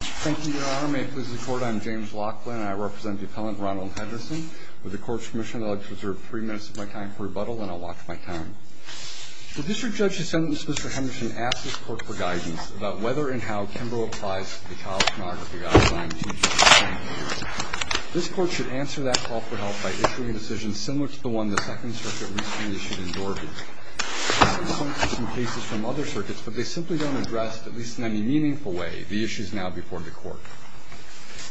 Thank you, Your Honor. May it please the Court, I am James Laughlin, and I represent the Appellant Ronald Henderson. With the Court's permission, I would like to reserve three minutes of my time for rebuttal, and I'll watch my time. The District Judge has sentenced Mr. Henderson to ask this Court for guidance about whether and how Kimbrough applies the child pornography outline to the District Attorney. This Court should answer that call for help by issuing a decision similar to the one the Second Circuit recently issued in Dorgan. Mr. Laughlin, I have some cases from other circuits, but they simply don't address, at least in any meaningful way, the issues now before the Court.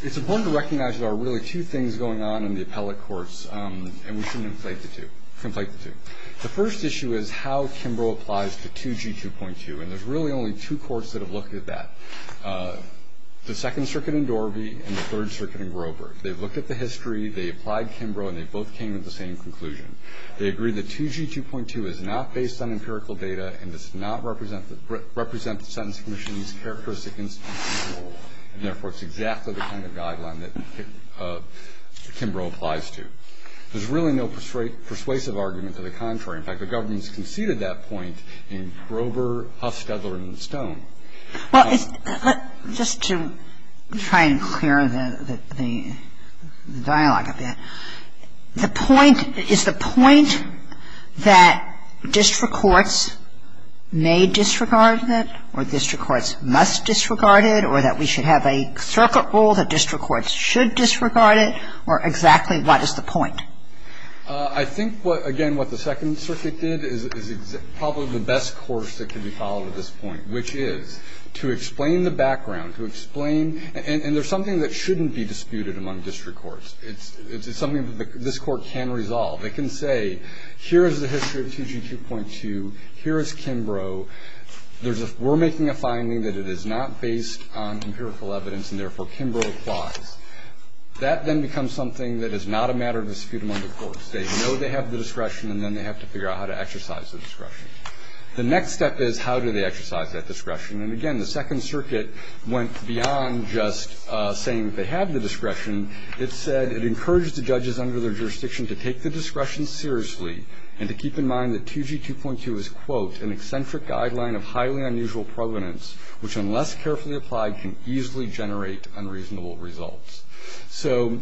It's important to recognize that there are really two things going on in the appellate courts, and we shouldn't conflate the two. The first issue is how Kimbrough applies to 2G 2.2, and there's really only two courts that have looked at that. The Second Circuit in Dorby and the Third Circuit in Grover. They've looked at the history, they applied to Kimbrough, and they both came to the same conclusion. They agree that 2G 2.2 is not based on empirical data and does not represent the Sentence Commission's characteristic institutional role, and therefore, it's exactly the kind of guideline that Kimbrough applies to. There's really no persuasive argument to the contrary. In fact, the government's conceded that point in Grover, Huff, Steadler, and Stone. Kagan. Well, just to try and clear the dialogue a bit, the point, is the point that district courts may disregard it or district courts must disregard it or that we should have a circuit rule that district courts should disregard it, or exactly what is the point? I think, again, what the Second Circuit did is probably the best course that can be followed at this point, which is to explain the background, to explain, and there's something that shouldn't be disputed among district courts. It's something that this Court can resolve. It can say, here is the history of 2G 2.2. Here is Kimbrough. We're making a finding that it is not based on empirical evidence, and therefore, Kimbrough applies. That then becomes something that is not a matter of dispute among the courts. They know they have the discretion, and then they have to figure out how to exercise the discretion. The next step is, how do they exercise that discretion? And, again, the Second Circuit went beyond just saying that they have the discretion. It said, it encouraged the judges under their jurisdiction to take the discretion seriously and to keep in mind that 2G 2.2 is, quote, an eccentric guideline of highly unusual provenance, which unless carefully applied can easily generate unreasonable results. So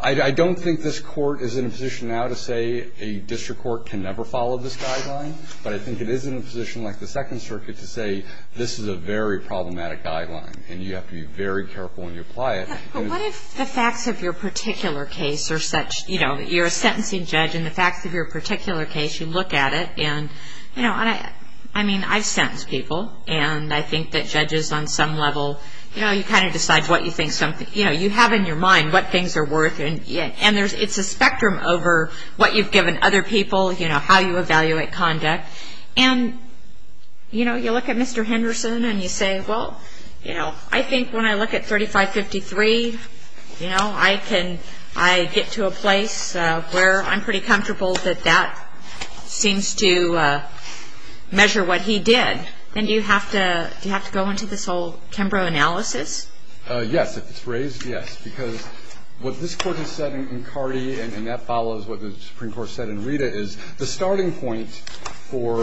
I don't think this Court is in a position now to say a district court can never follow this guideline, but I think it is in a position like the Second Circuit to say this is a very problematic guideline, and you have to be very careful when you apply it. But what if the facts of your particular case are such, you know, you're a sentencing judge, and the facts of your particular case, you look at it, and, you know, I mean, I've sentenced people, and I think that judges on some level, you know, you kind of decide what you think something, you know, you have in your mind what things are worth, and it's a spectrum over what you've given other people, you know, how you evaluate conduct. And, you know, you look at Mr. Henderson, and you say, well, you know, I think when I look at 3553, you know, I get to a place where I'm pretty comfortable that that seems to measure what he did. Then do you have to go into this whole Kimbrough analysis? Yes. If it's raised, yes. Because what this Court has said in Carty, and that follows what the Supreme Court said in Rita, is the starting point for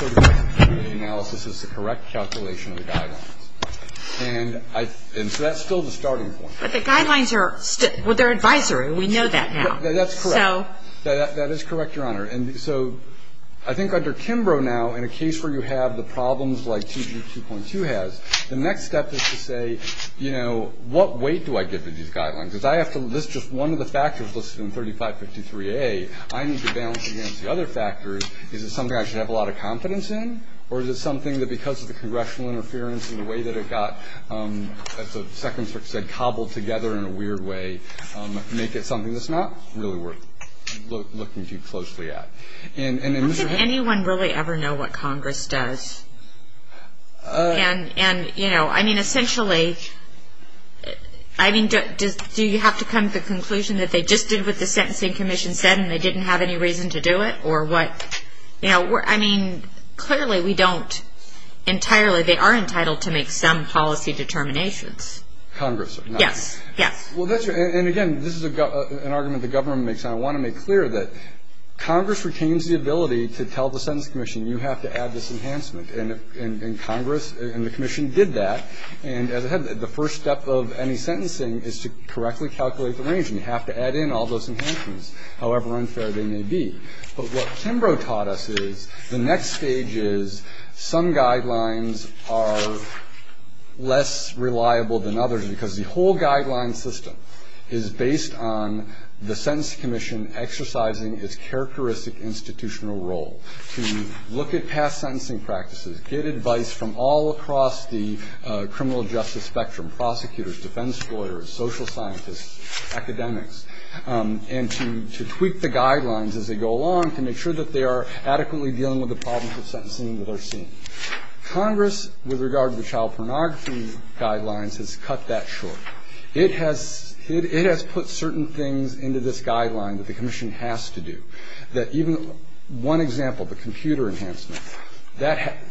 the analysis is the correct calculation of the guidelines. And so that's still the starting point. But the guidelines are still their advisory. We know that now. That's correct. That is correct, Your Honor. And so I think under Kimbrough now, in a case where you have the problems like 2G2.2 has, the next step is to say, you know, what weight do I give to these guidelines? Because I have to list just one of the factors listed in 3553A. I need to balance against the other factors. Is it something I should have a lot of confidence in, or is it something that because of the congressional interference and the way that it got, as the Second Circuit said, cobbled together in a weird way, make it something that's not really worth looking too closely at? How can anyone really ever know what Congress does? And, you know, I mean, essentially, I mean, do you have to come to the conclusion that they just did what the Sentencing Commission said and they didn't have any reason to do it, or what? You know, I mean, clearly we don't entirely. Congress are not. Yes, yes. Well, that's true. And, again, this is an argument the government makes. I want to make clear that Congress retains the ability to tell the Sentencing Commission, you have to add this enhancement. And Congress and the Commission did that. And, as I said, the first step of any sentencing is to correctly calculate the range, and you have to add in all those enhancements, however unfair they may be. But what Kimbrough taught us is the next stage is some guidelines are less reliable than others because the whole guideline system is based on the Sentencing Commission exercising its characteristic institutional role to look at past sentencing practices, get advice from all across the criminal justice spectrum, prosecutors, defense lawyers, social scientists, academics, and to tweak the guidelines as they go along to make sure that they are adequately dealing with the problems of sentencing that are seen. Congress, with regard to the child pornography guidelines, has cut that short. It has put certain things into this guideline that the Commission has to do, that even one example, the computer enhancement,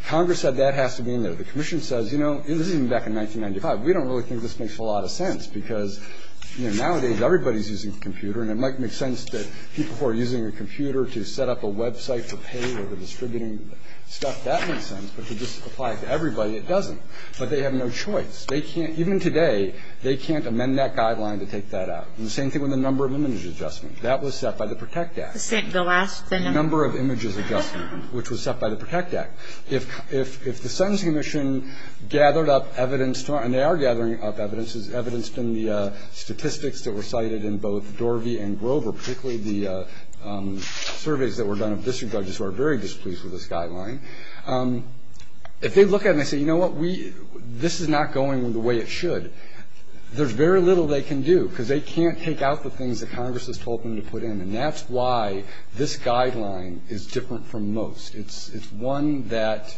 Congress said that has to be in there. The Commission says, you know, this is back in 1995, we don't really think this makes a lot of sense because, you know, nowadays everybody is using a computer, and it might make sense that people who are using a computer to set up a website to pay for the distributing stuff, that makes sense. But to just apply it to everybody, it doesn't. But they have no choice. They can't, even today, they can't amend that guideline to take that out. And the same thing with the number of images adjustment. That was set by the PROTECT Act. The last thing. The number of images adjustment, which was set by the PROTECT Act. If the Sentencing Commission gathered up evidence, and they are gathering up evidence, is evidenced in the statistics that were cited in both Dorvey and Grover, particularly the surveys that were done of district judges who are very displeased with this guideline, if they look at it and they say, you know what, this is not going the way it should, there's very little they can do because they can't take out the things that Congress has told them to put in. And that's why this guideline is different from most. It's one that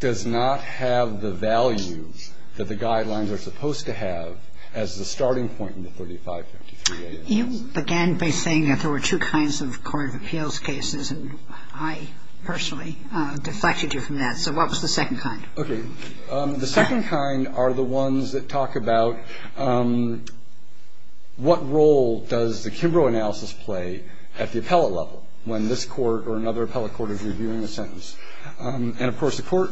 does not have the value that the guidelines are supposed to have as the starting point in the 3553A. You began by saying that there were two kinds of court of appeals cases, and I personally deflected you from that. So what was the second kind? Okay. The second kind are the ones that talk about what role does the Kimbrough analysis play at the appellate level when this court or another appellate court is reviewing a sentence. And, of course, the court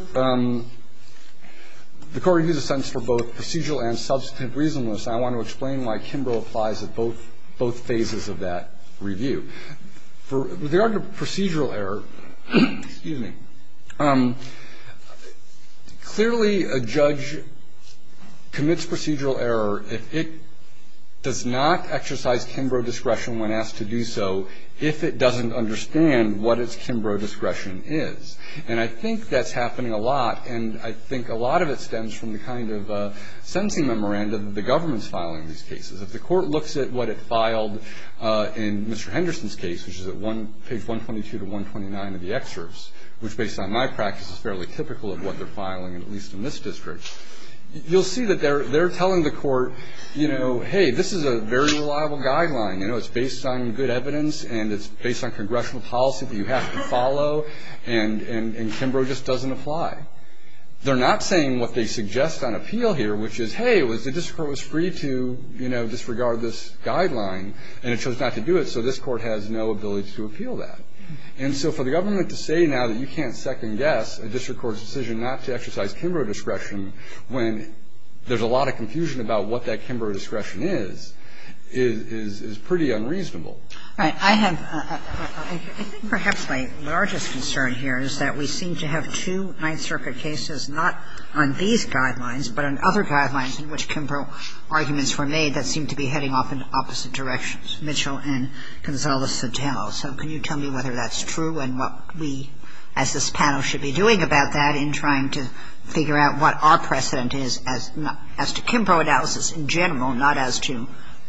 reviews a sentence for both procedural and substantive reasonableness, and I want to explain why Kimbrough applies at both phases of that review. With regard to procedural error, clearly a judge commits procedural error if it does not exercise Kimbrough discretion when asked to do so if it doesn't understand what its Kimbrough discretion is. And I think that's happening a lot, and I think a lot of it stems from the kind of sentencing memorandum that the government is filing in these cases. If the court looks at what it filed in Mr. Henderson's case, which is at page 122 to 129 of the excerpts, which based on my practice is fairly typical of what they're filing, at least in this district, you'll see that they're telling the court, you know, hey, this is a very reliable guideline. You know, it's based on good evidence, and it's based on congressional policy that you have to follow, and Kimbrough just doesn't apply. They're not saying what they suggest on appeal here, which is, hey, it was the district court was free to, you know, disregard this guideline, and it chose not to do it, so this court has no ability to appeal that. And so for the government to say now that you can't second-guess a district court's decision not to exercise Kimbrough discretion when there's a lot of confusion about what that Kimbrough discretion is, is pretty unreasonable. Kagan. I have a question. I think perhaps my largest concern here is that we seem to have two Ninth Circuit cases not on these guidelines, but on other guidelines in which Kimbrough arguments were made that seem to be heading off in opposite directions, Mitchell and Gonzales-Santel. So can you tell me whether that's true and what we, as this panel, should be doing about that in trying to figure out what our precedent is as to Kimbrough analysis in general, not as to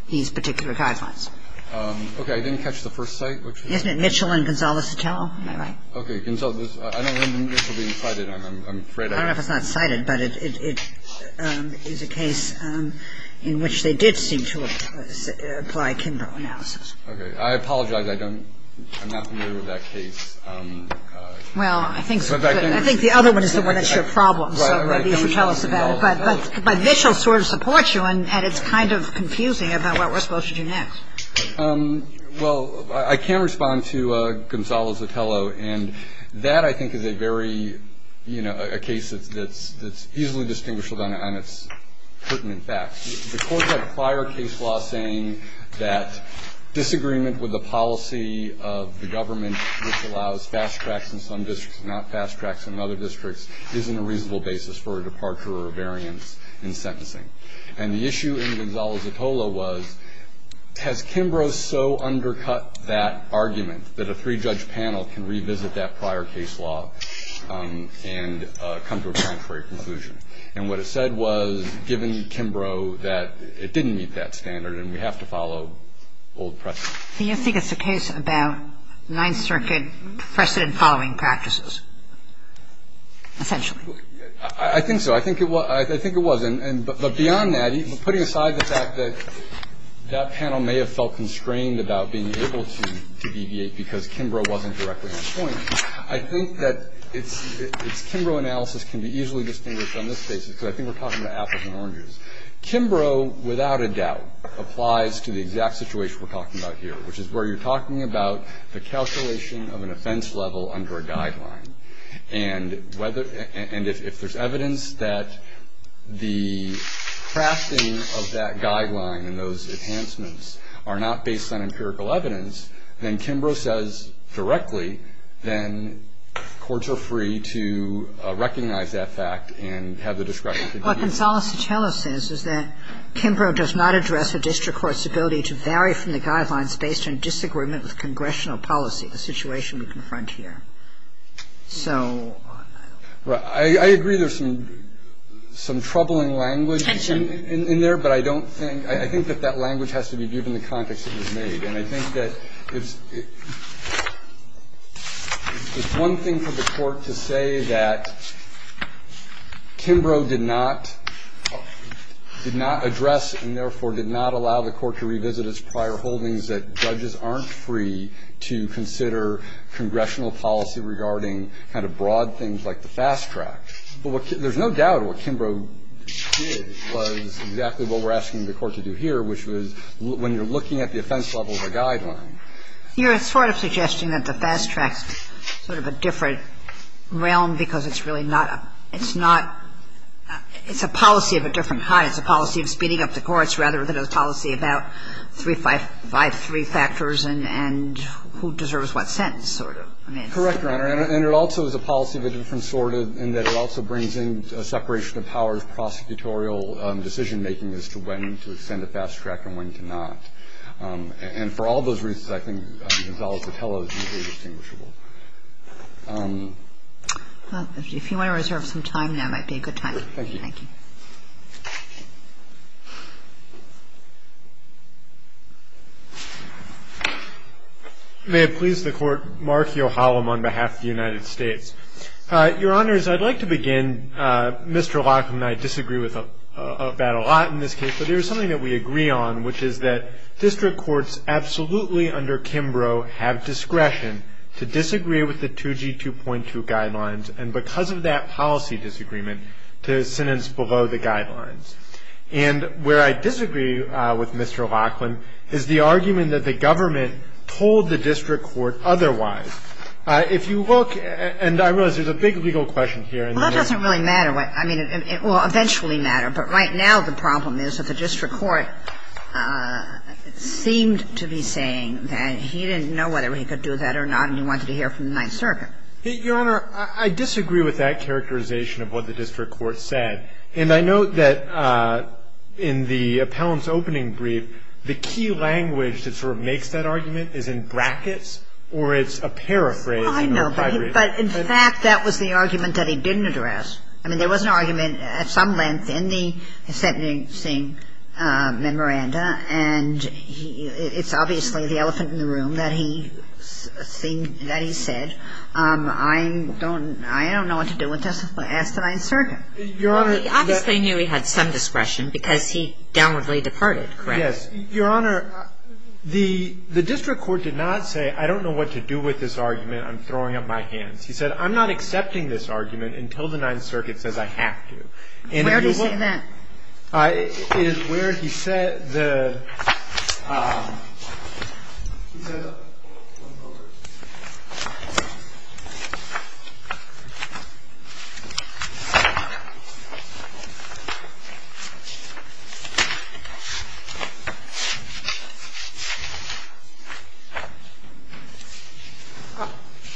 these particular guidelines? Phillips. Okay. I didn't catch the first cite, which is? Kagan. Isn't it Mitchell and Gonzales-Santel? Am I right? Phillips. Okay. Gonzales. I don't remember Mitchell being cited. I'm afraid I was. Kagan. I don't know if it's not cited, but it is a case in which they did seem to apply Kimbrough analysis. Phillips. Okay. I apologize. I don't – I'm not familiar with that case. Kagan. Well, I think the other one is the one that's your problem, so maybe you can tell us about that. But Mitchell sort of supports you, and it's kind of confusing about what we're supposed to do next. Phillips. Well, I can respond to Gonzales-Santel, and that, I think, is a very – you know, a case that's easily distinguished on its pertinent facts. The courts have prior case law saying that disagreement with the policy of the government which allows fast tracks in some districts and not fast tracks in other districts isn't a reasonable basis for a departure or a variance in sentencing. And the issue in Gonzales-Santel was, has Kimbrough so undercut that argument that a three-judge panel can revisit that prior case law and come to a contrary conclusion? And what it said was, given Kimbrough, that it didn't meet that standard and we have to follow old precedent. I think so. I think it was. I think it was. But beyond that, putting aside the fact that that panel may have felt constrained about being able to deviate because Kimbrough wasn't directly on point, I think that its Kimbrough analysis can be easily distinguished on this basis, because I think we're talking about apples and oranges. Kimbrough, without a doubt, applies to the exact situation we're talking about here, which is where you're talking about the calculation of an offense level under a guideline. And if there's evidence that the crafting of that guideline and those enhancements are not based on empirical evidence, then Kimbrough says directly, then courts are free to recognize that fact and have the discretion to do so. What Gonzales-Santel says is that Kimbrough does not address a district court's ability to vary from the guidelines based on disagreement with congressional policy, the situation we confront here. So I don't know. Right. I agree there's some troubling language in there, but I don't think – I think that that language has to be given the context it was made. And I think that it's one thing for the Court to say that Kimbrough did not address and therefore did not allow the Court to revisit its prior holdings that judges aren't free to consider congressional policy regarding kind of broad things like the fast track. But there's no doubt what Kimbrough did was exactly what we're asking the Court to do here, which was when you're looking at the offense level of a guideline. You're sort of suggesting that the fast track is sort of a different realm because it's really not a – it's not – it's a policy of a different height. It's a policy of speeding up the courts rather than a policy about three – five – five, three factors and who deserves what sentence sort of. Correct, Your Honor. And it also is a policy of a different sort in that it also brings in a separation of powers, prosecutorial decision-making as to when to extend a fast track and when to not. And for all those reasons, I think the result to tell is easily distinguishable. Well, if you want to reserve some time now, that might be a good time. Thank you. Thank you. May it please the Court. Mark Yochalam on behalf of the United States. Your Honors, I'd like to begin. Mr. Lockham and I disagree with that a lot in this case. But there is something that we agree on, which is that district courts absolutely under Kimbrough have discretion to disagree with the 2G2.2 guidelines and because of that policy disagreement to sentence below the guidelines. And where I disagree with Mr. Lockham is the argument that the government told the district court otherwise. If you look – and I realize there's a big legal question here. Well, that doesn't really matter. I mean, it will eventually matter. But right now the problem is that the district court seemed to be saying that he didn't know whether he could do that or not and he wanted to hear from the Ninth Circuit. And that's not the case here. Your Honor, I disagree with that characterization of what the district court said. And I note that in the appellant's opening brief, the key language that sort of makes that argument is in brackets or it's a paraphrase. I know. But in fact, that was the argument that he didn't address. I mean, there was an argument at some length in the sentencing memoranda, and it's obviously the elephant in the room, that he said, I don't know what to do with this. Ask the Ninth Circuit. Well, he obviously knew he had some discretion because he downwardly departed, correct? Yes. Your Honor, the district court did not say, I don't know what to do with this argument. I'm throwing up my hands. He said, I'm not accepting this argument until the Ninth Circuit says I have to. Where did he say that? It is where he said the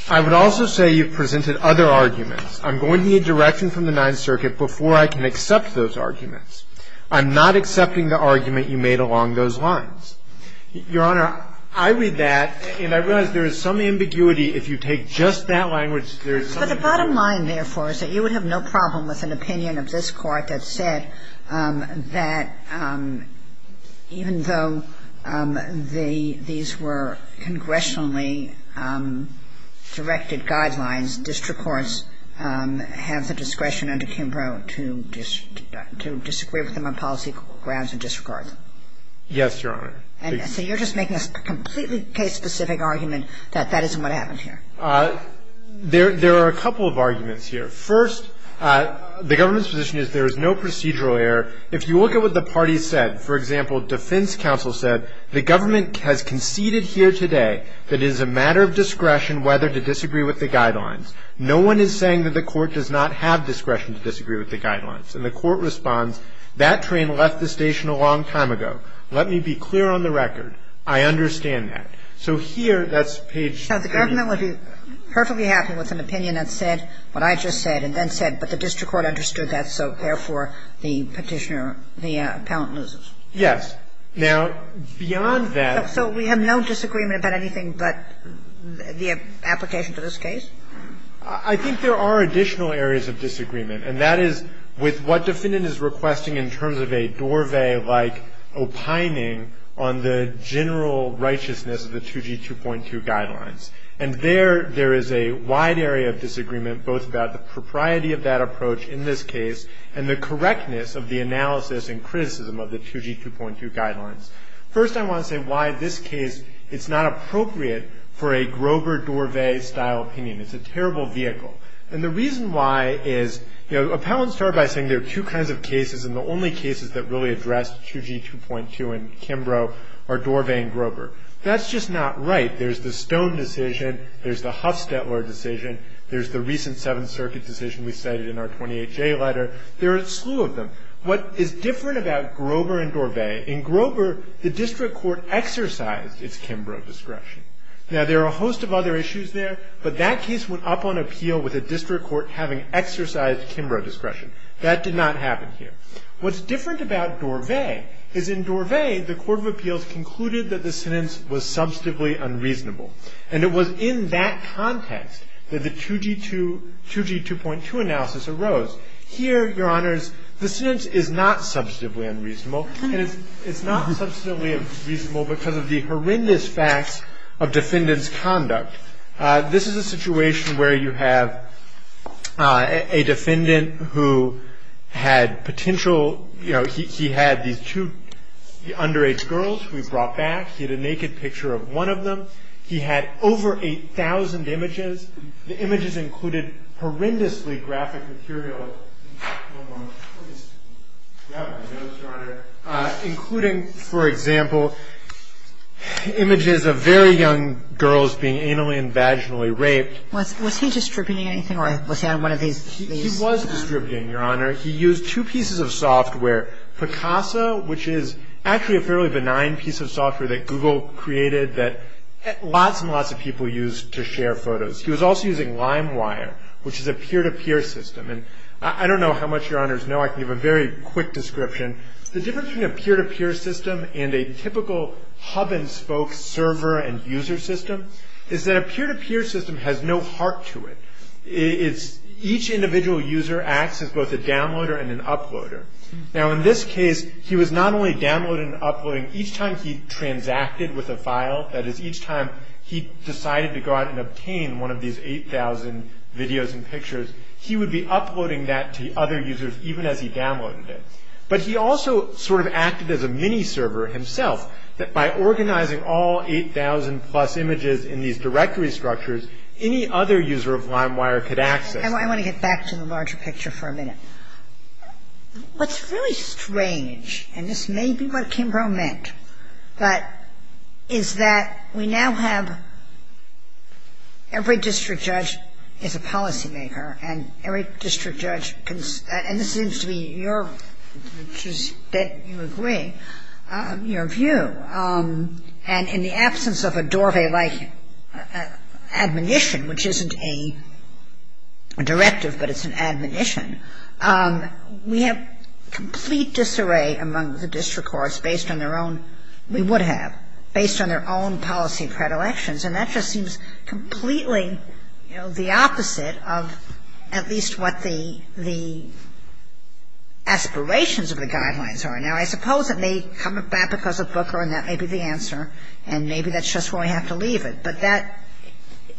I would also say you presented other arguments. I'm going to need direction from the Ninth Circuit before I can accept those arguments. I'm not accepting the argument you made along those lines. Your Honor, I read that, and I realize there is some ambiguity if you take just that language, there is some ambiguity. But the bottom line, therefore, is that you would have no problem with an opinion of this Court that said that even though the these were congressionally directed guidelines, district courts have the discretion under Kimbrough to disagree with them on policy grounds or disregard them. Yes, Your Honor. So you're just making a completely case-specific argument that that isn't what happened here. There are a couple of arguments here. First, the government's position is there is no procedural error. If you look at what the parties said, for example, defense counsel said, the government has conceded here today that it is a matter of discretion whether to disagree with the guidelines. No one is saying that the court does not have discretion to disagree with the guidelines. And the court responds, that train left the station a long time ago. Let me be clear on the record. I understand that. So here, that's page 3. Now, the government would be perfectly happy with an opinion that said what I just said and then said, but the district court understood that, so therefore, the petitioner, the appellant loses. Yes. Now, beyond that. So we have no disagreement about anything but the application to this case? I think there are additional areas of disagreement, and that is with what the defendant is requesting in terms of a Dorvay-like opining on the general righteousness of the 2G2.2 guidelines. And there, there is a wide area of disagreement both about the propriety of that First, I want to say why this case, it's not appropriate for a Grover-Dorvay-style opinion. It's a terrible vehicle. And the reason why is, you know, appellants start by saying there are two kinds of cases, and the only cases that really address 2G2.2 in Kimbrough are Dorvay and Grover. That's just not right. There's the Stone decision. There's the Huffstetler decision. There's the recent Seventh Circuit decision we cited in our 28-J letter. There are a slew of them. What is different about Grover and Dorvay, in Grover, the district court exercised its Kimbrough discretion. Now, there are a host of other issues there, but that case went up on appeal with a district court having exercised Kimbrough discretion. That did not happen here. What's different about Dorvay is in Dorvay, the Court of Appeals concluded that the sentence was substantively unreasonable. And it was in that context that the 2G2, 2G2.2 analysis arose. Here, Your Honors, the sentence is not substantively unreasonable. And it's not substantively unreasonable because of the horrendous facts of defendant's conduct. This is a situation where you have a defendant who had potential, you know, he had these two underage girls who he brought back. He had a naked picture of one of them. He had over 8,000 images. The images included horrendously graphic material, including, for example, images of very young girls being anally and vaginally raped. Was he distributing anything or was he on one of these? He was distributing, Your Honor. He used two pieces of software, Picasa, which is actually a fairly benign piece of software that Google created that lots and lots of people used to share photos. He was also using LimeWire, which is a peer-to-peer system. And I don't know how much, Your Honors, know. I can give a very quick description. The difference between a peer-to-peer system and a typical hub-and-spoke server and user system is that a peer-to-peer system has no heart to it. It's each individual user acts as both a downloader and an uploader. Now, in this case, he was not only downloading and uploading each time he decided to go out and obtain one of these 8,000 videos and pictures. He would be uploading that to other users even as he downloaded it. But he also sort of acted as a mini-server himself, that by organizing all 8,000-plus images in these directory structures, any other user of LimeWire could access. I want to get back to the larger picture for a minute. What's really strange, and this may be what Kimbrough meant, but is that we now have every district judge is a policymaker, and every district judge can – and this seems to be your – that you agree – your view. And in the absence of a Dorvey-like admonition, which isn't a directive, but it's an admonition, we have complete disarray among the district courts based on their own – we would have – based on their own policy predilections. And that just seems completely, you know, the opposite of at least what the aspirations of the guidelines are. Now, I suppose it may come about because of Booker, and that may be the answer, and maybe that's just where we have to leave it. But that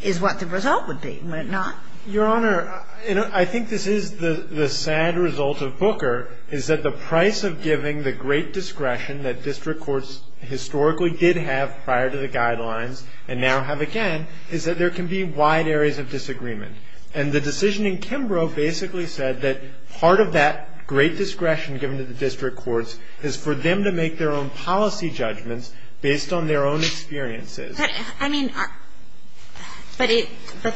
is what the result would be, would it not? Your Honor, I think this is the sad result of Booker, is that the price of giving the great discretion that district courts historically did have prior to the guidelines and now have again is that there can be wide areas of disagreement. And the decision in Kimbrough basically said that part of that great discretion given to the district courts is for them to make their own policy judgments based on their own experiences. But, I mean, but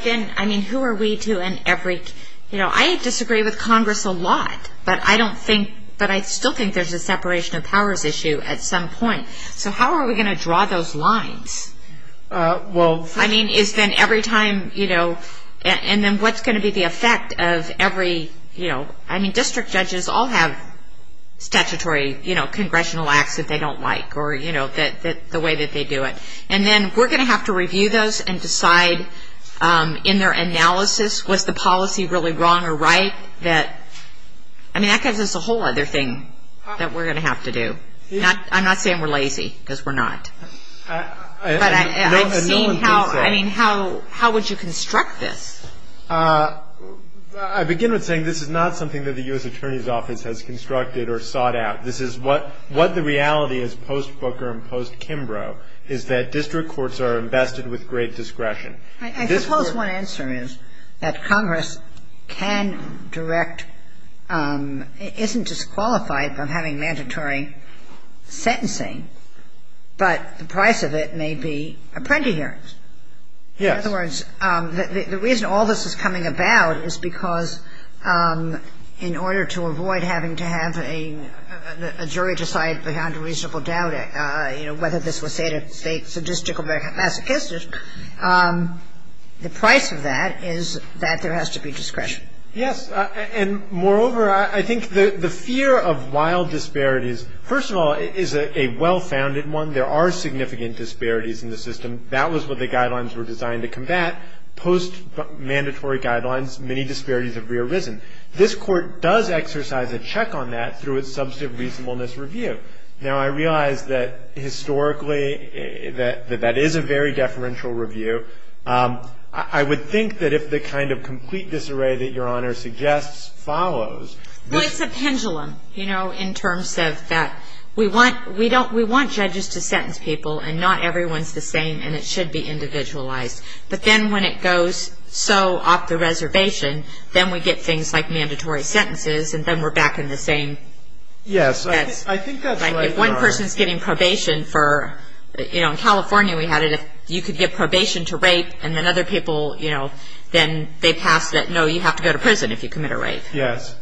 then, I mean, who are we to – you know, I disagree with Congress a lot, but I don't think – but I still think there's a separation of powers issue at some point. So how are we going to draw those lines? Well – I mean, is then every time, you know, and then what's going to be the effect of every, you know – I mean, district judges all have statutory, you know, congressional acts that they don't like or, you know, the way that they do it. And then we're going to have to review those and decide in their analysis, was the policy really wrong or right that – I mean, that gives us a whole other thing that we're going to have to do. I'm not saying we're lazy because we're not. But I've seen how – I mean, how would you construct this? I begin with saying this is not something that the U.S. Attorney's Office has constructed or sought out. This is what – what the reality is post-Booker and post-Kimbrough is that district courts are invested with great discretion. I suppose one answer is that Congress can direct – isn't disqualified from having mandatory sentencing, but the price of it may be apprentice hearings. Yes. In other words, the reason all this is coming about is because in order to avoid having to have a jury decide beyond a reasonable doubt, you know, whether this was sadistic or very masochistic, the price of that is that there has to be discretion. Yes. And, moreover, I think the fear of wild disparities, first of all, is a well-founded one. There are significant disparities in the system. That was what the guidelines were designed to combat. Post-mandatory guidelines, many disparities have re-arisen. This Court does exercise a check on that through its substantive reasonableness review. Now, I realize that historically that that is a very deferential review. I would think that if the kind of complete disarray that Your Honor suggests follows – Well, it's a pendulum, you know, in terms of that we want – we don't – we want judges to sentence people, and not everyone's the same, and it should be individualized. But then when it goes so off the reservation, then we get things like mandatory sentences, and then we're back in the same – Yes. I think that's right, Your Honor. If one person's getting probation for – you know, in California we had it if you could get probation to rape, and then other people, you know, then they passed it. No, you have to go to prison if you commit a rape. Yes.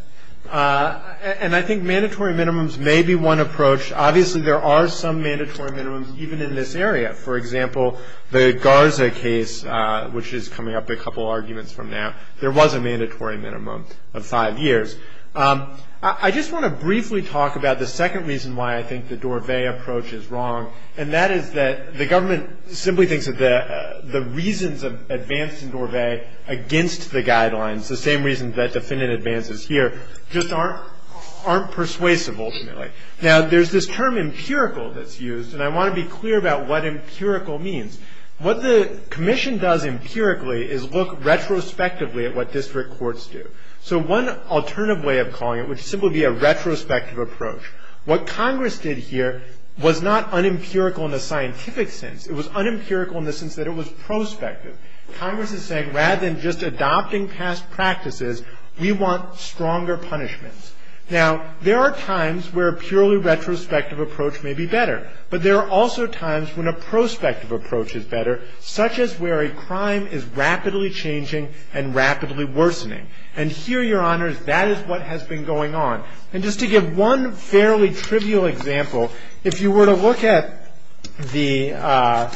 And I think mandatory minimums may be one approach. Obviously, there are some mandatory minimums even in this area. For example, the Garza case, which is coming up a couple arguments from now, there was a mandatory minimum of five years. I just want to briefly talk about the second reason why I think the Dorvay approach is wrong, and that is that the government simply thinks that the reasons of advance in Dorvay against the guidelines, the same reasons that defendant advances here, just aren't persuasive ultimately. Now, there's this term empirical that's used, and I want to be clear about what empirical means. What the commission does empirically is look retrospectively at what district courts do. So one alternative way of calling it would simply be a retrospective approach. What Congress did here was not unempirical in the scientific sense. It was unempirical in the sense that it was prospective. Congress is saying rather than just adopting past practices, we want stronger punishments. Now, there are times where a purely retrospective approach may be better, but there are also times when a prospective approach is better, such as where a crime is rapidly changing and rapidly worsening. And here, Your Honors, that is what has been going on. And just to give one fairly trivial example, if you were to look at the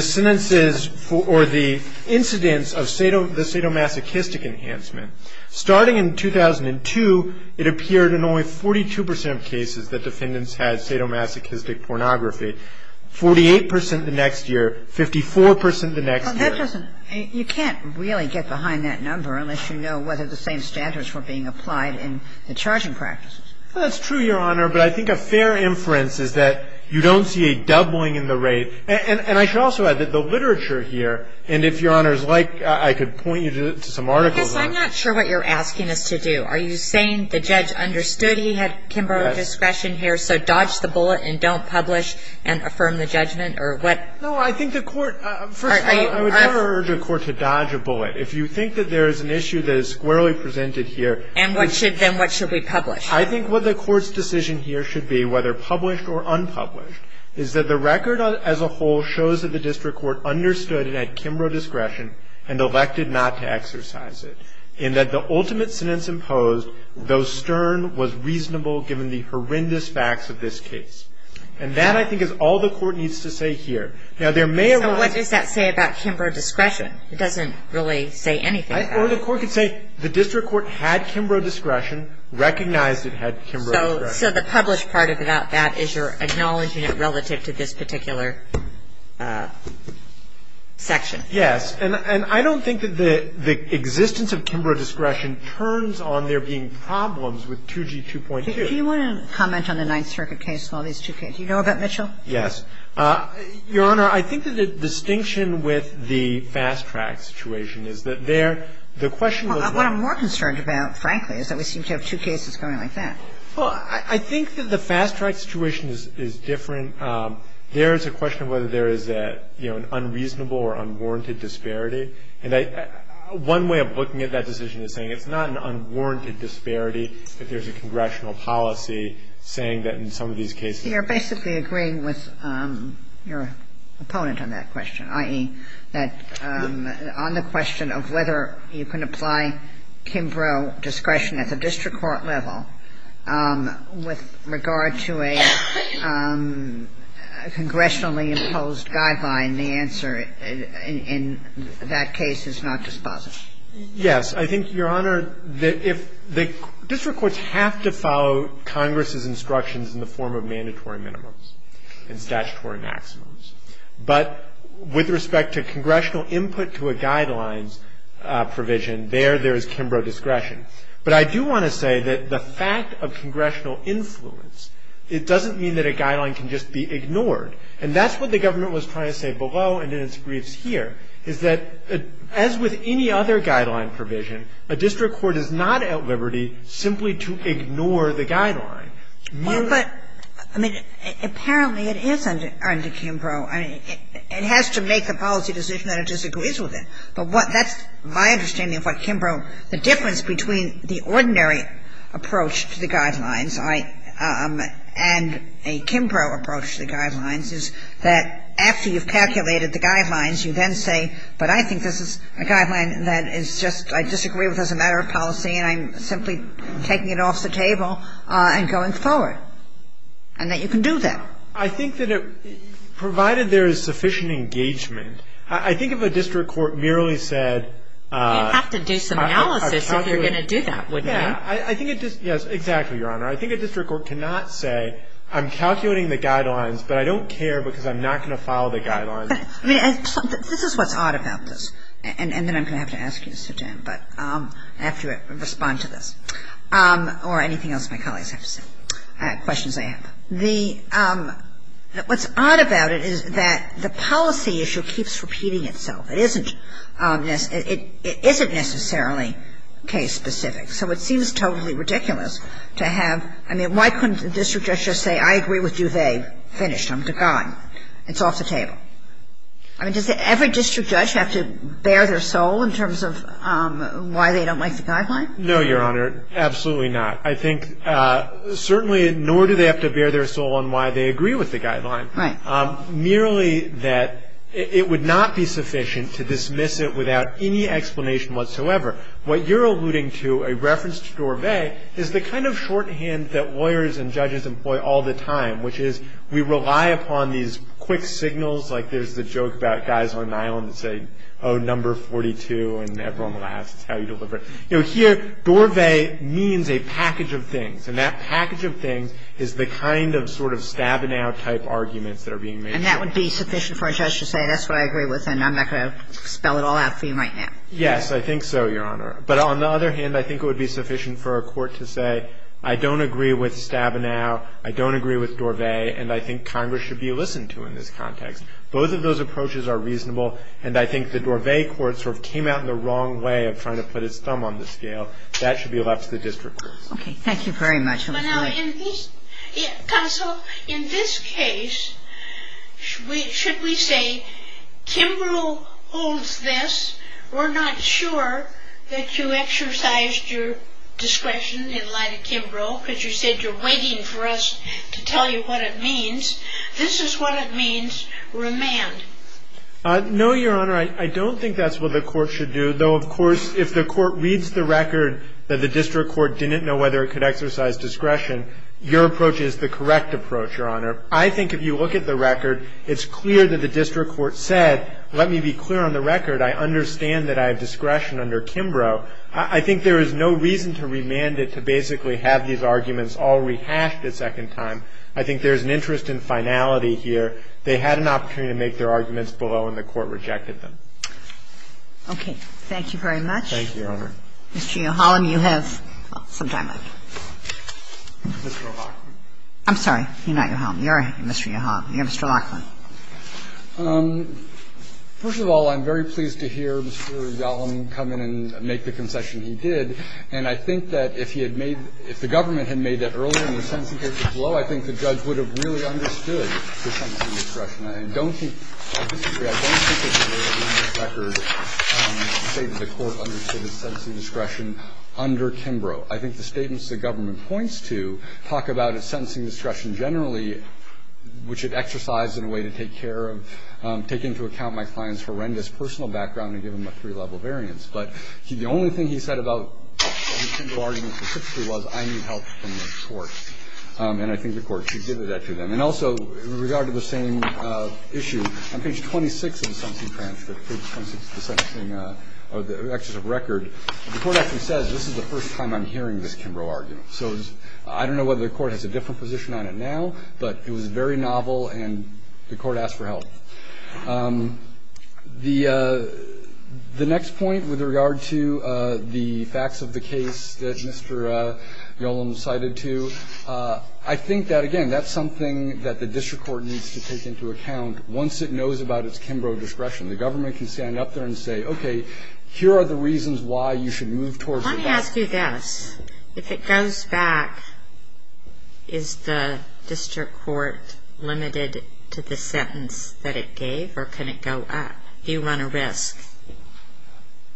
sentences or the incidents of the sadomasochistic enhancement, starting in 2002, it appeared in only 42 percent of cases that defendants had sadomasochistic pornography, 48 percent the next year, 54 percent the next year. Well, that doesn't – you can't really get behind that number unless you know whether the same standards were being applied in the charging practices. Well, that's true, Your Honor. But I think a fair inference is that you don't see a doubling in the rate. And I should also add that the literature here, and if Your Honors like, I could point you to some articles on it. I guess I'm not sure what you're asking us to do. Are you saying the judge understood he had Kimbrough discretion here, so dodge the bullet and don't publish and affirm the judgment, or what? No, I think the court – first of all, I would never urge a court to dodge a bullet. If you think that there is an issue that is squarely presented here – And what should – then what should we publish? I think what the court's decision here should be, whether published or unpublished, is that the record as a whole shows that the district court understood it had Kimbrough discretion and elected not to exercise it, in that the ultimate sentence imposed, though stern, was reasonable given the horrendous facts of this case. And that, I think, is all the court needs to say here. Now, there may arise – So what does that say about Kimbrough discretion? It doesn't really say anything about it. Or the court could say the district court had Kimbrough discretion, recognized it had Kimbrough discretion. So the published part about that is you're acknowledging it relative to this particular section. Yes. And I don't think that the existence of Kimbrough discretion turns on there being problems with 2G2.2. Do you want to comment on the Ninth Circuit case and all these two cases? Do you know about Mitchell? Yes. Your Honor, I think that the distinction with the fast-track situation is that there – the question was not – What I'm more concerned about, frankly, is that we seem to have two cases going like Well, I think that the fast-track situation is different. There is a question of whether there is an unreasonable or unwarranted disparity. And one way of looking at that decision is saying it's not an unwarranted disparity if there's a congressional policy saying that in some of these cases You're basically agreeing with your opponent on that question, i.e., that on the question of whether you can apply Kimbrough discretion at the district court level with regard to a congressionally imposed guideline, the answer in that case is not dispositive. Yes. I think, Your Honor, that if the district courts have to follow Congress's instructions in the form of mandatory minimums and statutory maximums, but with respect to congressional input to a guidelines provision, there there is Kimbrough discretion. But I do want to say that the fact of congressional influence, it doesn't mean that a guideline can just be ignored. And that's what the government was trying to say below and in its briefs here, is that as with any other guideline provision, a district court is not at liberty simply to ignore the guideline. Well, but, I mean, apparently it isn't under Kimbrough. I mean, it has to make a policy decision that it disagrees with it. But that's my understanding of what Kimbrough, the difference between the ordinary approach to the guidelines and a Kimbrough approach to the guidelines is that after you've calculated the guidelines, you then say, but I think this is a guideline that is just, I disagree with as a matter of policy, and I'm simply taking it off the table and going forward, and that you can do that. I think that it, provided there is sufficient engagement, I think if a district court merely said. You'd have to do some analysis if you're going to do that, wouldn't you? Yes, exactly, Your Honor. I think a district court cannot say, I'm calculating the guidelines, but I don't care because I'm not going to follow the guidelines. I mean, this is what's odd about this. And then I'm going to have to ask you to sit down, but I have to respond to this, or anything else my colleagues have to say, questions I have. The, what's odd about it is that the policy issue keeps repeating itself. It isn't necessarily case specific. So it seems totally ridiculous to have, I mean, why couldn't a district judge just say, I agree with you, they, finished, I'm to God. It's off the table. I mean, does every district judge have to bare their soul in terms of why they don't like the guidelines? No, Your Honor, absolutely not. I think certainly nor do they have to bare their soul in why they agree with the guidelines. Right. Merely that it would not be sufficient to dismiss it without any explanation whatsoever. What you're alluding to, a reference to Dorvay, is the kind of shorthand that lawyers and judges employ all the time, which is we rely upon these quick signals, like there's the joke about guys on an island that say, oh, number 42, and everyone laughs. It's how you deliver it. You know, here, Dorvay means a package of things. And that package of things is the kind of sort of Stabenow-type arguments that are being made. And that would be sufficient for a judge to say, that's what I agree with, and I'm not going to spell it all out for you right now. Yes, I think so, Your Honor. But on the other hand, I think it would be sufficient for a court to say, I don't agree with Stabenow, I don't agree with Dorvay, and I think Congress should be listened to in this context. Both of those approaches are reasonable, and I think the Dorvay court sort of came out in the wrong way of trying to put its thumb on the scale. That should be left to the district courts. Okay. Thank you very much. Counsel, in this case, should we say, Kimbrough holds this. We're not sure that you exercised your discretion in light of Kimbrough because you said you're waiting for us to tell you what it means. This is what it means. Remand. No, Your Honor. I don't think that's what the court should do, though, of course, if the court reads the record that the district court didn't know whether it could exercise discretion, your approach is the correct approach, Your Honor. I think if you look at the record, it's clear that the district court said, let me be clear on the record, I understand that I have discretion under Kimbrough. I think there is no reason to remand it to basically have these arguments all rehashed a second time. I think there's an interest in finality here. And I think the court should be able to say, if the district court had not been there, they had an opportunity to make their arguments below, and the court rejected them. Okay. Thank you very much. Thank you, Your Honor. Mr. Yohalam, you have some time left. Mr. O'Rourke. I'm sorry. You're not Yohalam. You're Mr. Yohalam. You're Mr. Larkin. First of all, I'm very pleased to hear Mr. Yohalam come in and make the concession he did. And I think that if he had made, if the government had made that earlier and the sentencing record was below, I think the judge would have really understood the sentencing discretion. I don't think, I'll just say, I don't think that there is any record to say that the court understood his sentencing discretion under Kimbrough. I think the statements the government points to talk about his sentencing discretion generally, which it exercised in a way to take care of, take into account my client's horrendous personal background and give him a three-level variance. But the only thing he said about the Kimbrough argument specifically was, I need help from the court. And I think the court should give it to them. And also, in regard to the same issue, on page 26 of the sentencing transcript, page 26 of the sentencing, or the executive record, the court actually says, this is the first time I'm hearing this Kimbrough argument. So I don't know whether the court has a different position on it now, but it was very novel and the court asked for help. The next point with regard to the facts of the case that Mr. Nolan cited to, I think that, again, that's something that the district court needs to take into account once it knows about its Kimbrough discretion. The government can stand up there and say, okay, here are the reasons why you should move towards the best. I want to ask you this. If it goes back, is the district court limited to the sentence that it gave? Or can it go up? Do you run a risk?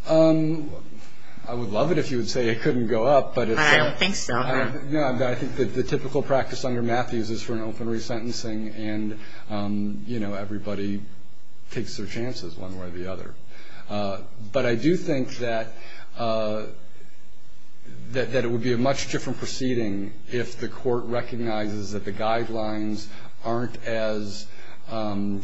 I would love it if you would say it couldn't go up. I don't think so. No, I think that the typical practice under Matthews is for an open resentencing and, you know, everybody takes their chances one way or the other. But I do think that it would be a much different proceeding if the court recognizes that the guidelines aren't as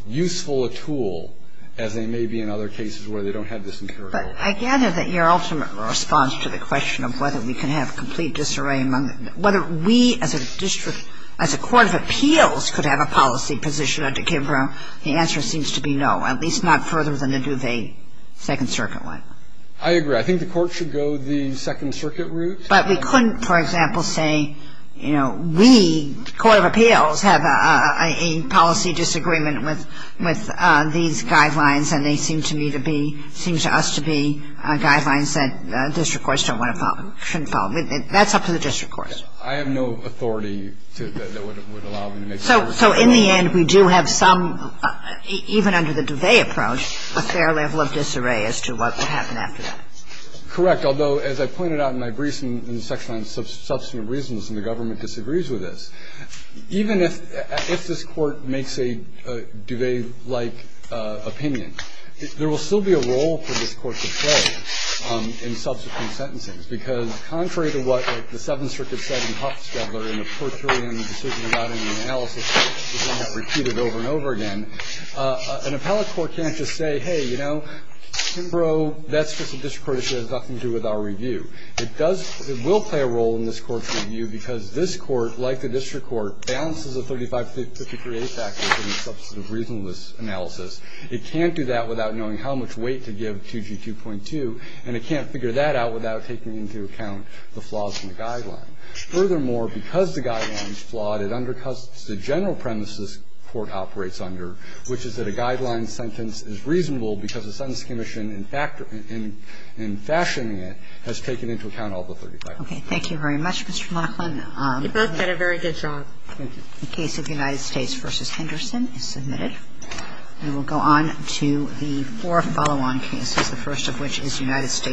useful a tool as they may be in other cases where they don't have this imperative. But I gather that your ultimate response to the question of whether we can have complete disarray among the – whether we as a district, as a court of appeals could have a policy position under Kimbrough, the answer seems to be no. At least not further than the Duvet Second Circuit one. I agree. I think the court should go the Second Circuit route. But we couldn't, for example, say, you know, we, the court of appeals, have a policy disagreement with these guidelines, and they seem to me to be – seem to us to be guidelines that district courts don't want to follow, shouldn't follow. That's up to the district courts. I have no authority that would allow me to make that decision. So in the end, we do have some, even under the Duvet approach, a fair level of disarray as to what will happen after that. Correct. Although, as I pointed out in my briefs in the section on substantive reasons, and the government disagrees with this, even if this Court makes a Duvet-like opinion, there will still be a role for this Court to play in subsequent sentencing, because contrary to what the Seventh Circuit said in Huff's Devler in the per curiam decision about any analysis, repeated over and over again, an appellate court can't just say, hey, you know, Kimbrough, that's just a district court issue. It has nothing to do with our review. It does – it will play a role in this Court's review because this Court, like the district court, balances the 3553A factors in the substantive reasonableness analysis. It can't do that without knowing how much weight to give 2G2.2, and it can't figure that out without taking into account the flaws in the guideline. Furthermore, because the guideline is flawed, it undercuts the general premises this Court operates under, which is that a guideline sentence is reasonable because the Sentence Commission, in fact – in fashioning it, has taken into account all the 3553A. Okay. Thank you very much, Mr. Monahan. You both did a very good job. Thank you. The case of United States v. Henderson is submitted. And we'll go on to the four follow-on cases, the first of which is United States